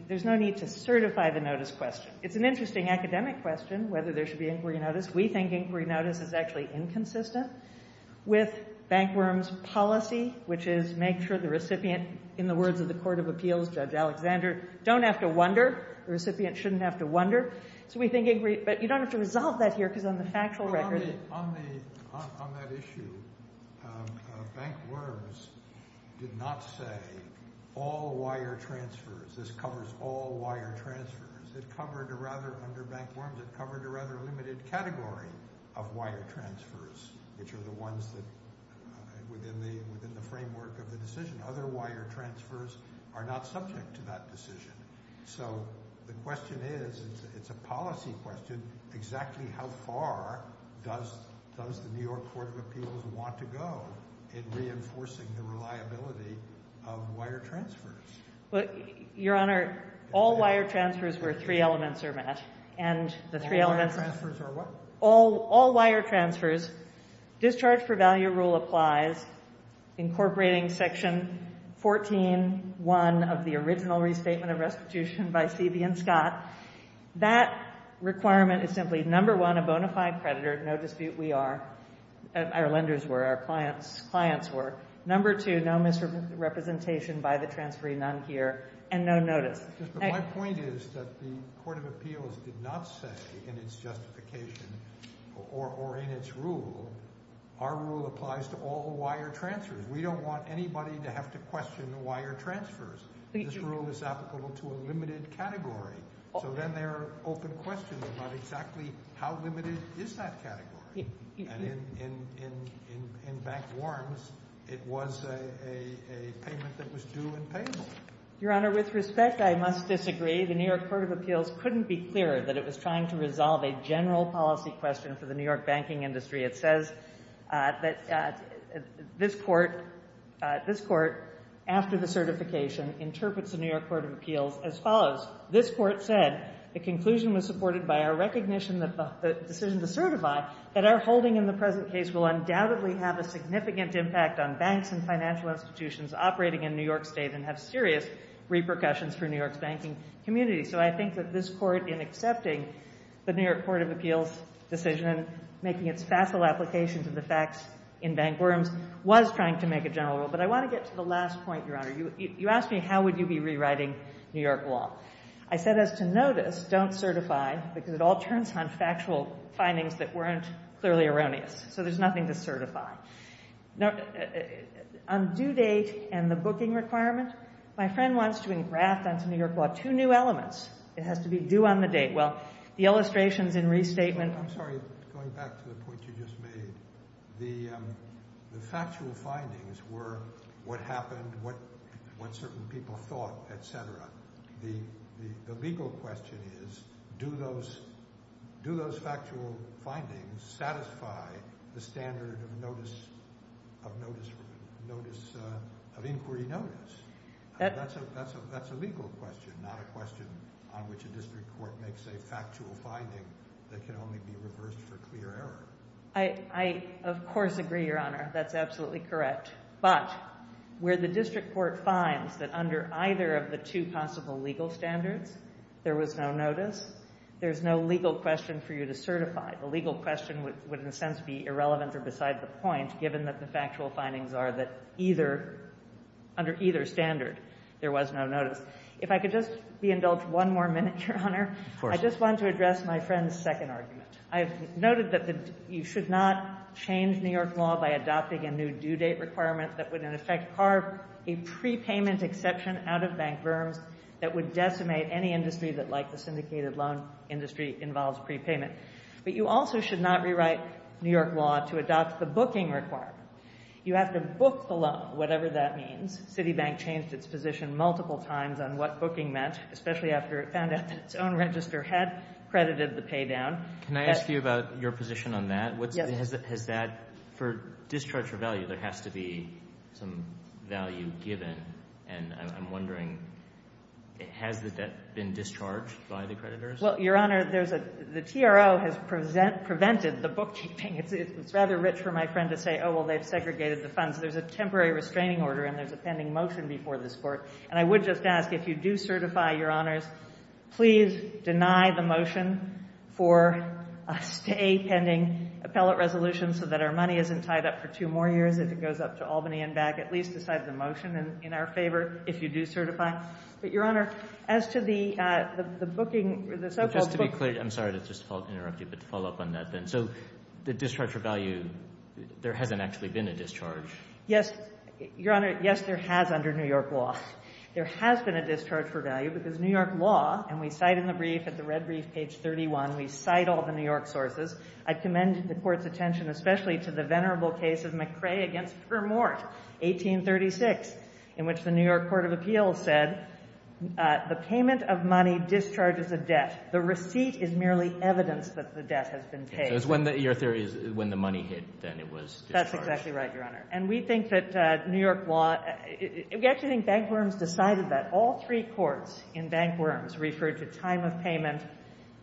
There's no need to certify the notice question. It's an interesting academic question, whether there should be inquiry notice. We think inquiry notice is actually inconsistent with Bank Worms' policy, which is make sure the recipient, in the words of the Court of Appeals Judge Alexander, don't have to wonder. The recipient shouldn't have to wonder. But you don't have to resolve that here because on the factual record. On that issue, Bank Worms did not say all wire transfers. This covers all wire transfers. Under Bank Worms, it covered a rather limited category of wire transfers, which are the ones within the framework of the decision. Other wire transfers are not subject to that decision. So the question is, it's a policy question, exactly how far does the New York Court of Appeals want to go in reinforcing the reliability of wire transfers? Your Honor, all wire transfers where three elements are met. All wire transfers are what? All wire transfers. Discharge for value rule applies, incorporating section 14.1 of the original restatement of restitution by Seavey and Scott. That requirement is simply, number one, a bona fide predator, no dispute we are. Our lenders were, our clients were. Number two, no misrepresentation by the transferring non-peer and no notice. My point is that the Court of Appeals did not say in its justification or in its rule, our rule applies to all wire transfers. We don't want anybody to have to question wire transfers. This rule is applicable to a limited category. So then there are open questions about exactly how limited is that category. And in back warrants, it was a payment that was due and payable. Your Honor, with respect, I must disagree. The New York Court of Appeals couldn't be clearer that it was trying to resolve a general policy question for the New York banking industry. It says that this court, after the certification, interprets the New York Court of Appeals as follows. This court said, the conclusion was supported by our recognition that the decision to certify that our holding in the present case will undoubtedly have a significant impact on banks and financial institutions operating in New York State and have serious repercussions for New York's banking community. So I think that this court in accepting the New York Court of Appeals decision and making its facile application to the facts in bank warrants was trying to make a general rule. But I want to get to the last point, Your Honor. You asked me how would you be rewriting New York law. I said as to notice, don't certify, because it all turns on factual findings that weren't clearly erroneous. So there's nothing to certify. On due date and the booking requirement, my friend wants to engraft onto New York law two new elements. It has to be due on the date. Well, the illustrations and restatement... I'm sorry, going back to the point you just made. The factual findings were what happened, what certain people thought, et cetera. The legal question is do those factual findings satisfy the standard of inquiry notice? That's a legal question, not a question on which a district court makes a factual finding that can only be reversed for clear error. I, of course, agree, Your Honor. That's absolutely correct. But where the district court finds that under either of the two possible legal standards, there was no notice, there's no legal question for you to certify. The legal question would, in a sense, be irrelevant or beside the point, given that the factual findings are that under either standard, there was no notice. If I could just be indulged one more minute, Your Honor. Of course. I just want to address my friend's second argument. I've noted that you should not change New York law by adopting a new due date requirement that would, in effect, carve a prepayment exception out of bank verms that would decimate any industry that, like the syndicated loan industry, involves prepayment. But you also should not rewrite New York law to adopt the booking requirement. You have to book the loan, whatever that means. Citibank changed its position multiple times on what booking meant, especially after it found out that its own register had credited the paydown. Can I ask you about your position on that? Yes. Has that, for discharge of value, there has to be some value given? And I'm wondering, has that been discharged by the creditors? Well, Your Honor, the TRO has prevented the bookkeeping. It's rather rich for my friend to say, oh, well, they've segregated the funds. There's a temporary restraining order and there's a pending motion before this Court. And I would just ask, if you do certify, Your Honors, please deny the motion for a stay pending appellate resolution so that our money isn't tied up for two more years if it goes up to Albany and back. At least decide the motion in our favor if you do certify. But, Your Honor, as to the booking, the so-called bookkeeping... Just to be clear, I'm sorry to just interrupt you, but to follow up on that then. So the discharge for value, there hasn't actually been a discharge? Yes, Your Honor, yes, there has under New York law. There has been a discharge for value because New York law, and we cite in the brief, at the red brief, page 31, we cite all the New York sources. I commend the Court's attention, especially to the venerable case of McRae against Vermoort, 1836, in which the New York Court of Appeals said, the payment of money discharges a debt. The receipt is merely evidence that the debt has been paid. So your theory is when the money hit, then it was discharged. That's exactly right, Your Honor. And we think that New York law... We actually think Bank Worms decided that. All three courts in Bank Worms referred to time of payment,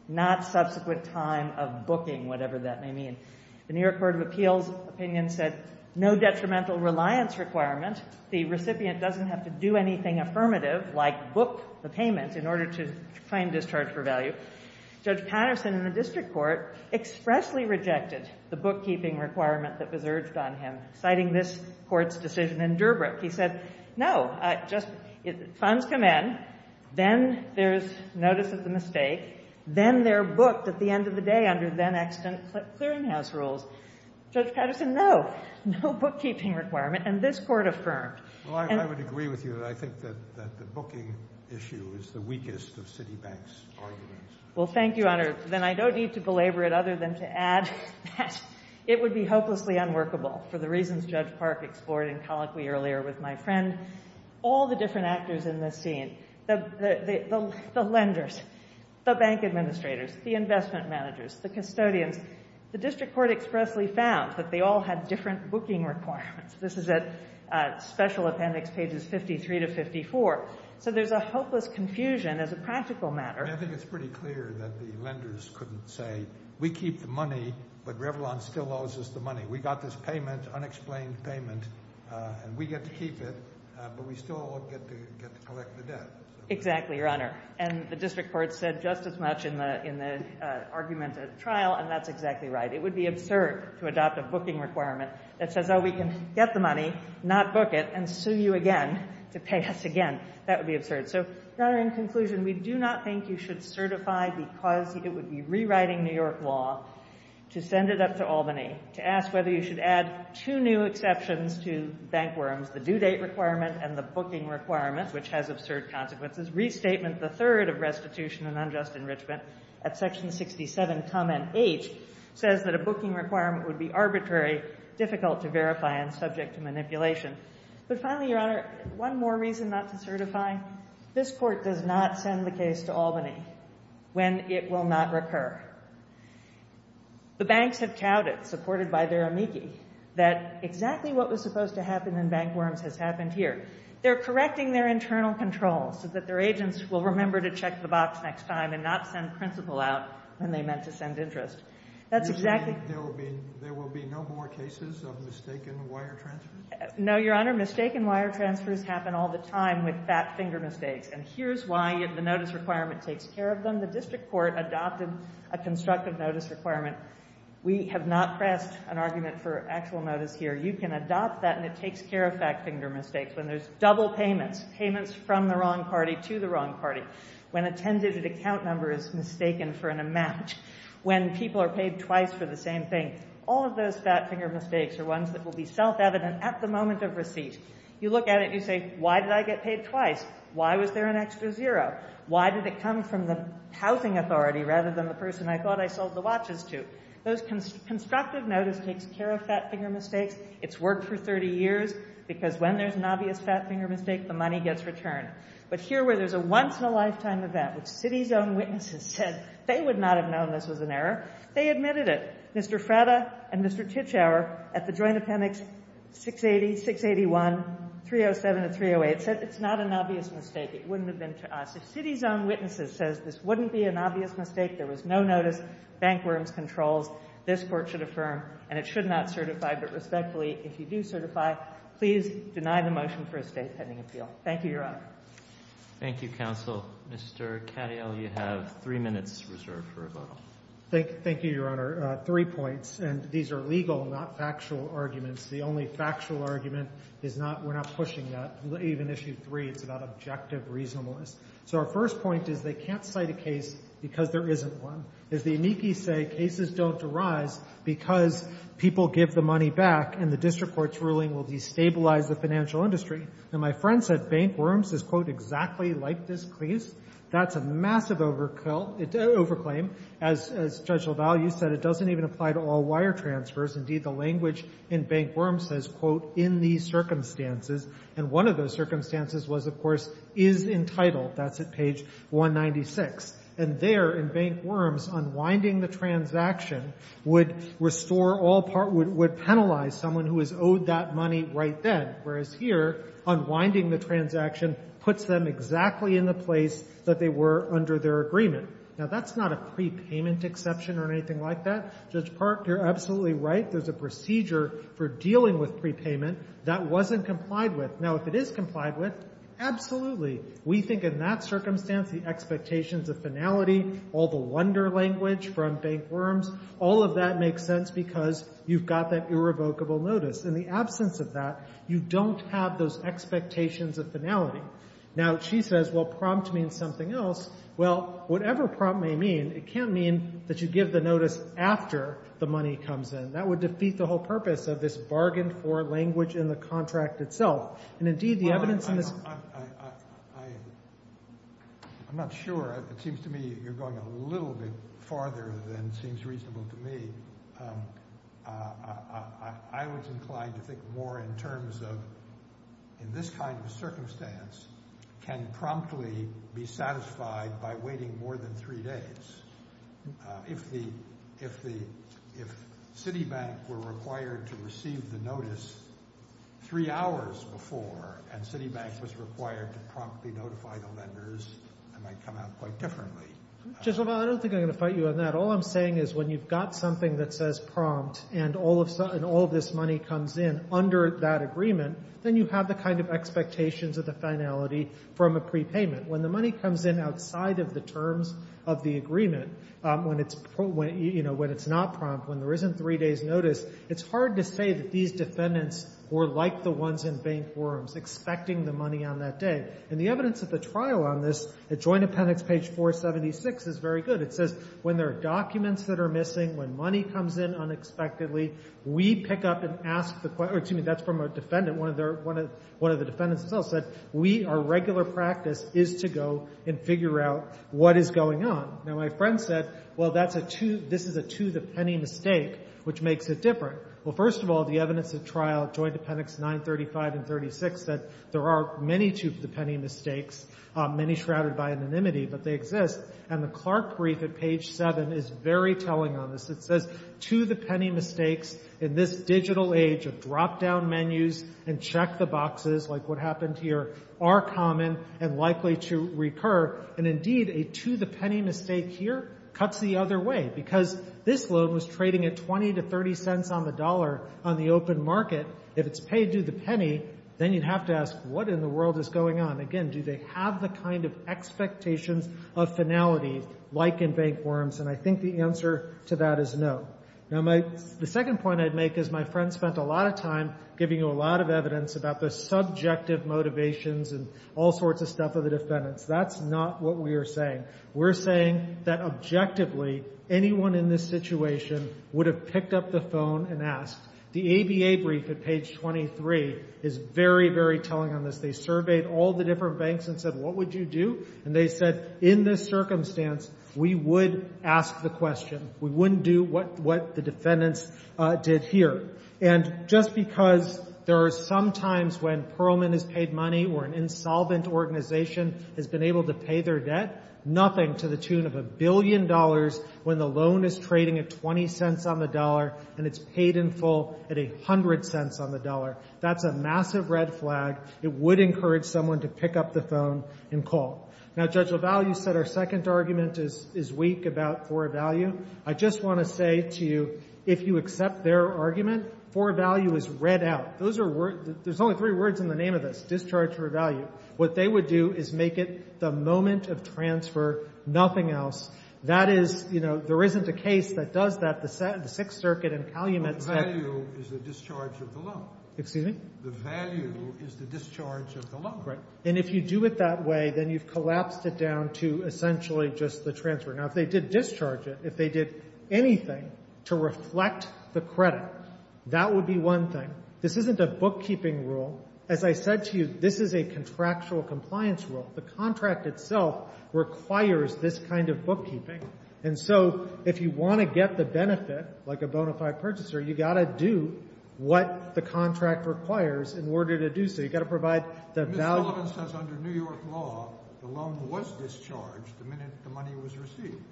not subsequent time of booking, whatever that may mean. The New York Court of Appeals opinion said, no detrimental reliance requirement. The recipient doesn't have to do anything affirmative, like book the payment, in order to claim discharge for value. Judge Patterson in the district court expressly rejected the bookkeeping requirement that was urged on him, citing this Court's decision in Durbrick. He said, no, funds come in, then there's notice of the mistake, then they're booked at the end of the day under then-extant clearinghouse rules. Judge Patterson, no, no bookkeeping requirement, and this Court affirmed. Well, I would agree with you that I think that the booking issue is the weakest of Citibank's arguments. Well, thank you, Your Honor. Then I don't need to belabor it other than to add that it would be hopelessly unworkable, for the reasons Judge Park explored in colloquy earlier with my friend. All the different actors in this scene, the lenders, the bank administrators, the investment managers, the custodians, the district court expressly found that they all had different booking requirements. This is at Special Appendix, pages 53 to 54. So there's a hopeless confusion as a practical matter. I think it's pretty clear that the lenders couldn't say, we keep the money, but Revlon still owes us the money. We got this payment, unexplained payment, and we get to keep it, but we still get to collect the debt. Exactly, Your Honor. And the district court said just as much in the argument at trial, and that's exactly right. It would be absurd to adopt a booking requirement that says, oh, we can get the money, not book it, and sue you again to pay us again. That would be absurd. So, Your Honor, in conclusion, we do not think you should certify because it would be rewriting New York law to send it up to Albany to ask whether you should add two new exceptions to bankworms, the due date requirement and the booking requirement, which has absurd consequences. Restatement III of Restitution and Unjust Enrichment at Section 67, Comment 8, says that a booking requirement would be arbitrary, difficult to verify, and subject to manipulation. But finally, Your Honor, one more reason not to certify. This Court does not send the case to Albany when it will not recur. The banks have touted, supported by their amici, that exactly what was supposed to happen in bankworms has happened here. They're correcting their internal controls so that their agents will remember to check the box next time and not send principal out when they meant to send interest. That's exactly... You're saying there will be no more cases of mistaken wire transfers? No, Your Honor. Mistaken wire transfers happen all the time with fat finger mistakes, and here's why the notice requirement takes care of them. When the district court adopted a constructive notice requirement, we have not pressed an argument for actual notice here. You can adopt that, and it takes care of fat finger mistakes. When there's double payments, payments from the wrong party to the wrong party, when a 10-digit account number is mistaken for an amount, when people are paid twice for the same thing, all of those fat finger mistakes are ones that will be self-evident at the moment of receipt. You look at it, you say, why did I get paid twice? Why was there an extra zero? Why did it come from the housing authority rather than the person I thought I sold the watches to? Those constructive notice takes care of fat finger mistakes. It's worked for 30 years, because when there's an obvious fat finger mistake, the money gets returned. But here where there's a once-in-a-lifetime event, which city's own witnesses said they would not have known this was an error, they admitted it. Mr. Frata and Mr. Titschauer at the Joint Appendix 680, 681, 307, and 308 said it's not an obvious mistake. It wouldn't have been to us. If city's own witnesses says this wouldn't be an obvious mistake, there was no notice, bank rooms, controls, this Court should affirm and it should not certify. But respectfully, if you do certify, please deny the motion for a State pending appeal. Thank you, Your Honor. Roberts. Thank you, counsel. Mr. Katyal, you have three minutes reserved for rebuttal. Katyal. Thank you, Your Honor. Three points, and these are legal, not factual arguments. The only factual argument is not we're not pushing that. It's not even issue three. It's about objective reasonableness. So our first point is they can't cite a case because there isn't one. As the amici say, cases don't arise because people give the money back and the district court's ruling will destabilize the financial industry. And my friend said bank rooms is, quote, exactly like this case. That's a massive over claim. As Judicial Value said, it doesn't even apply to all wire transfers. Indeed, the language in bank rooms says, quote, in these circumstances. And one of those circumstances was, of course, is entitled. That's at page 196. And there in bank rooms, unwinding the transaction would restore all part of what would penalize someone who is owed that money right then, whereas here, unwinding the transaction puts them exactly in the place that they were under their agreement. Now, that's not a prepayment exception or anything like that. Judge Park, you're absolutely right. There's a procedure for dealing with prepayment. That wasn't complied with. Now, if it is complied with, absolutely. We think in that circumstance the expectations of finality, all the wonder language from bank rooms, all of that makes sense because you've got that irrevocable notice. In the absence of that, you don't have those expectations of finality. Now, she says, well, prompt means something else. Well, whatever prompt may mean, it can't mean that you give the notice after the money comes in. That would defeat the whole purpose of this bargain for language in the contract itself. And indeed, the evidence in this— I'm not sure. It seems to me you're going a little bit farther than seems reasonable to me. I was inclined to think more in terms of in this kind of circumstance, can promptly be satisfied by waiting more than three days. If Citibank were required to receive the notice three hours before and Citibank was required to promptly notify the lenders, it might come out quite differently. I don't think I'm going to fight you on that. All I'm saying is when you've got something that says prompt and all of this money comes in under that agreement, then you have the kind of expectations of the finality from a prepayment. When the money comes in outside of the terms of the agreement, when it's not prompt, when there isn't three days' notice, it's hard to say that these defendants were like the ones in bank forums, expecting the money on that day. And the evidence at the trial on this, at Joint Appendix page 476, is very good. It says when there are documents that are missing, when money comes in unexpectedly, we pick up and ask the—excuse me, that's from a defendant. One of the defendants themselves said, we, our regular practice is to go and figure out what is going on. Now, my friend said, well, this is a to-the-penny mistake, which makes it different. Well, first of all, the evidence at trial, Joint Appendix 935 and 936, said there are many to-the-penny mistakes, many shrouded by anonymity, but they exist. And the Clark brief at page 7 is very telling on this. It says to-the-penny mistakes in this digital age of drop-down menus and check-the-boxes like what happened here are common and likely to recur. And indeed, a to-the-penny mistake here cuts the other way because this loan was trading at 20 to 30 cents on the dollar on the open market. If it's paid to the penny, then you'd have to ask what in the world is going on. Again, do they have the kind of expectations of finality like in bank forms? And I think the answer to that is no. Now, the second point I'd make is my friend spent a lot of time giving you a lot of evidence about the subjective motivations and all sorts of stuff of the defendants. That's not what we are saying. We're saying that objectively anyone in this situation would have picked up the phone and asked. The ABA brief at page 23 is very, very telling on this. They surveyed all the different banks and said, what would you do? And they said, in this circumstance, we would ask the question. We wouldn't do what the defendants did here. And just because there are some times when Perlman has paid money or an insolvent organization has been able to pay their debt, nothing to the tune of a billion dollars when the loan is trading at 20 cents on the dollar and it's paid in full at 100 cents on the dollar. That's a massive red flag. It would encourage someone to pick up the phone and call. Now, Judge LaValle, you said our second argument is weak about for a value. I just want to say to you, if you accept their argument, for a value is read out. There's only three words in the name of this, discharge for a value. What they would do is make it the moment of transfer, nothing else. That is, you know, there isn't a case that does that. The Sixth Circuit and Calumet said the value is the discharge of the loan. The value is the discharge of the loan. And if you do it that way, then you've collapsed it down to essentially just the transfer. Now, if they did discharge it, if they did anything to reflect the credit, that would be one thing. This isn't a bookkeeping rule. As I said to you, this is a contractual compliance rule. The contract itself requires this kind of bookkeeping. And so if you want to get the benefit, like a bona fide purchaser, you've got to do what the contract requires in order to do so. You've got to provide the value. Ms. Sullivan says under New York law, the loan was discharged the minute the money was received.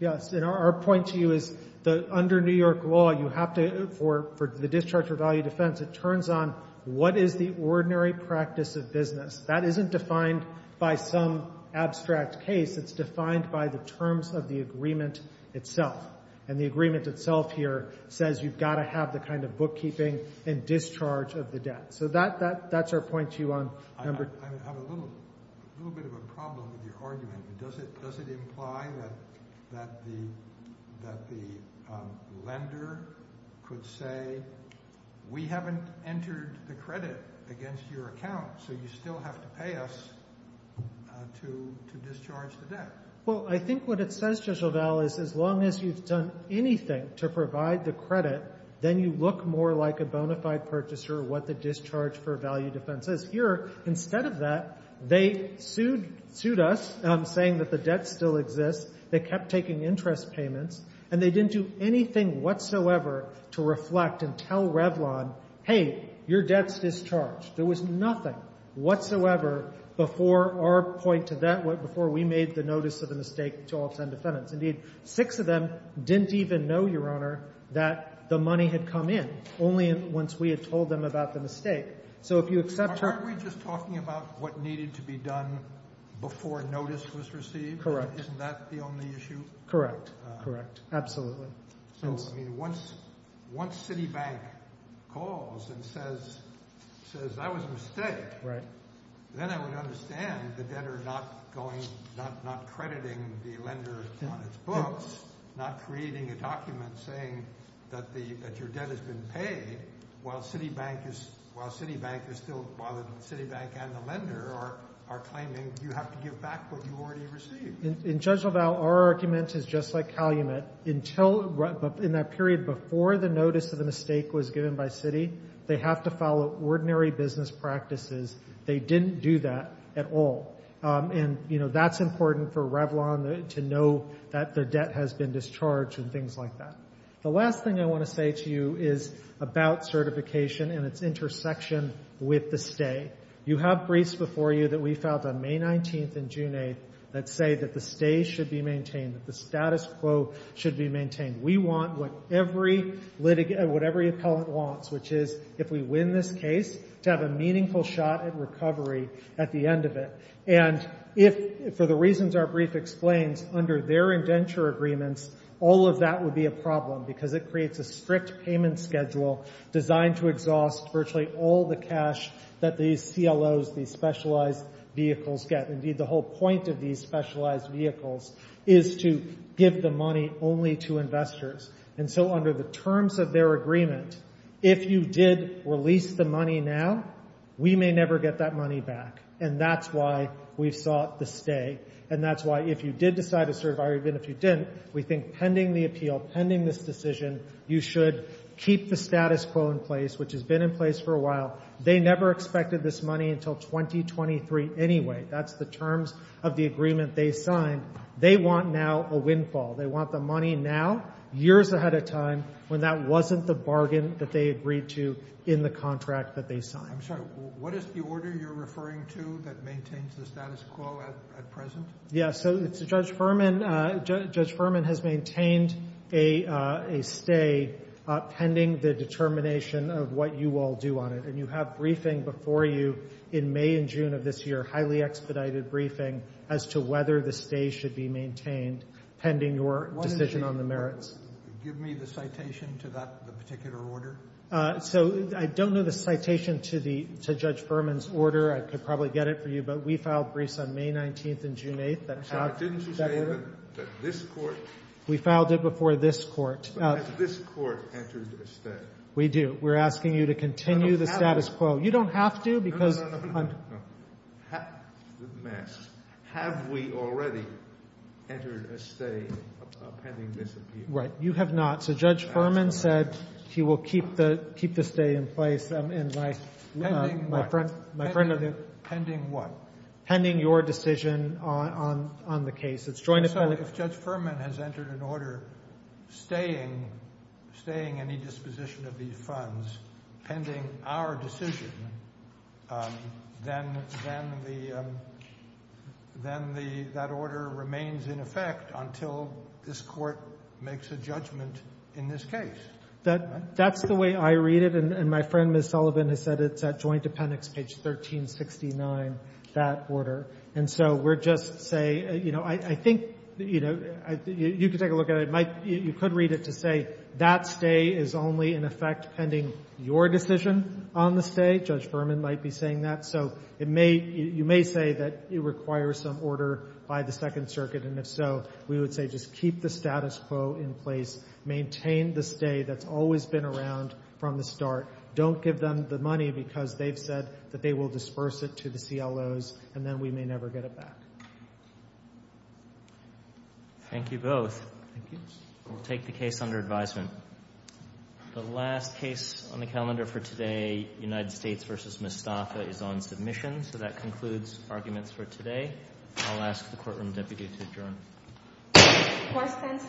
Yes, and our point to you is that under New York law, you have to, for the discharge of value defense, it turns on what is the ordinary practice of business. That isn't defined by some abstract case. It's defined by the terms of the agreement itself. And the agreement itself here says you've got to have the kind of bookkeeping and discharge of the debt. So that's our point to you on number two. I have a little bit of a problem with your argument. Does it imply that the lender could say, we haven't entered the credit against your account, so you still have to pay us to discharge the debt? Well, I think what it says, Judge LaValle, is as long as you've done anything to provide the credit, then you look more like a bona fide purchaser, what the discharge for value defense is. Here, instead of that, they sued us, saying that the debt still exists. They kept taking interest payments, and they didn't do anything whatsoever to reflect and tell Revlon, hey, your debt's discharged. There was nothing whatsoever before our point to that, before we made the notice of the mistake to all 10 defendants. Indeed, six of them didn't even know, Your Honor, that the money had come in, only once we had told them about the mistake. So if you accept your— Aren't we just talking about what needed to be done before notice was received? Correct. Isn't that the only issue? Correct, correct. Absolutely. So, I mean, once Citibank calls and says that was a mistake, then I would understand the debtor not crediting the lender on its books, not creating a document saying that your debt has been paid, while Citibank and the lender are claiming you have to give back what you already received. In Judge LaValle, our argument is just like Calumet. In that period before the notice of the mistake was given by Citi, they have to follow ordinary business practices. They didn't do that at all. And, you know, that's important for Revlon to know that their debt has been discharged and things like that. The last thing I want to say to you is about certification and its intersection with the stay. You have briefs before you that we filed on May 19th and June 8th that say that the stay should be maintained, that the status quo should be maintained. We want what every litigant—what every appellant wants, which is if we win this case, to have a meaningful shot at recovery at the end of it. And if—for the reasons our brief explains, under their indenture agreements, all of that would be a problem because it creates a strict payment schedule designed to exhaust virtually all the cash that these CLOs, these specialized vehicles, get. Indeed, the whole point of these specialized vehicles is to give the money only to investors. And so under the terms of their agreement, if you did release the money now, we may never get that money back. And that's why we sought the stay. And that's why if you did decide to certify or even if you didn't, we think pending the appeal, pending this decision, you should keep the status quo in place, which has been in place for a while. They never expected this money until 2023 anyway. That's the terms of the agreement they signed. They want now a windfall. They want the money now, years ahead of time, when that wasn't the bargain that they agreed to in the contract that they signed. I'm sorry. What is the order you're referring to that maintains the status quo at present? Yeah, so it's Judge Furman. Judge Furman has maintained a stay pending the determination of what you all do on it. And you have briefing before you in May and June of this year, highly expedited briefing, as to whether the stay should be maintained pending your decision on the merits. Give me the citation to that particular order. So I don't know the citation to Judge Furman's order. I could probably get it for you. But we filed briefs on May 19th and June 8th. Didn't you say that this court? We filed it before this court. Has this court entered a stay? We do. We're asking you to continue the status quo. You don't have to. No, no, no, no, no. Have we already entered a stay pending this appeal? Right. You have not. So Judge Furman said he will keep the stay in place. Pending what? Pending your decision on the case. So if Judge Furman has entered an order staying any disposition of these funds pending our decision, then that order remains in effect until this court makes a judgment in this case. That's the way I read it. And my friend, Ms. Sullivan, has said it's at Joint Dependents, page 1369, that order. And so we're just saying, you know, I think, you know, you could take a look at it. You could read it to say that stay is only in effect pending your decision on the stay. Judge Furman might be saying that. So you may say that it requires some order by the Second Circuit. And if so, we would say just keep the status quo in place. Maintain the stay that's always been around from the start. Don't give them the money because they've said that they will disperse it to the CLOs, and then we may never get it back. Thank you both. We'll take the case under advisement. The last case on the calendar for today, United States v. Mustafa, is on submission. So that concludes arguments for today. I'll ask the courtroom deputy to adjourn. Court stands adjourned.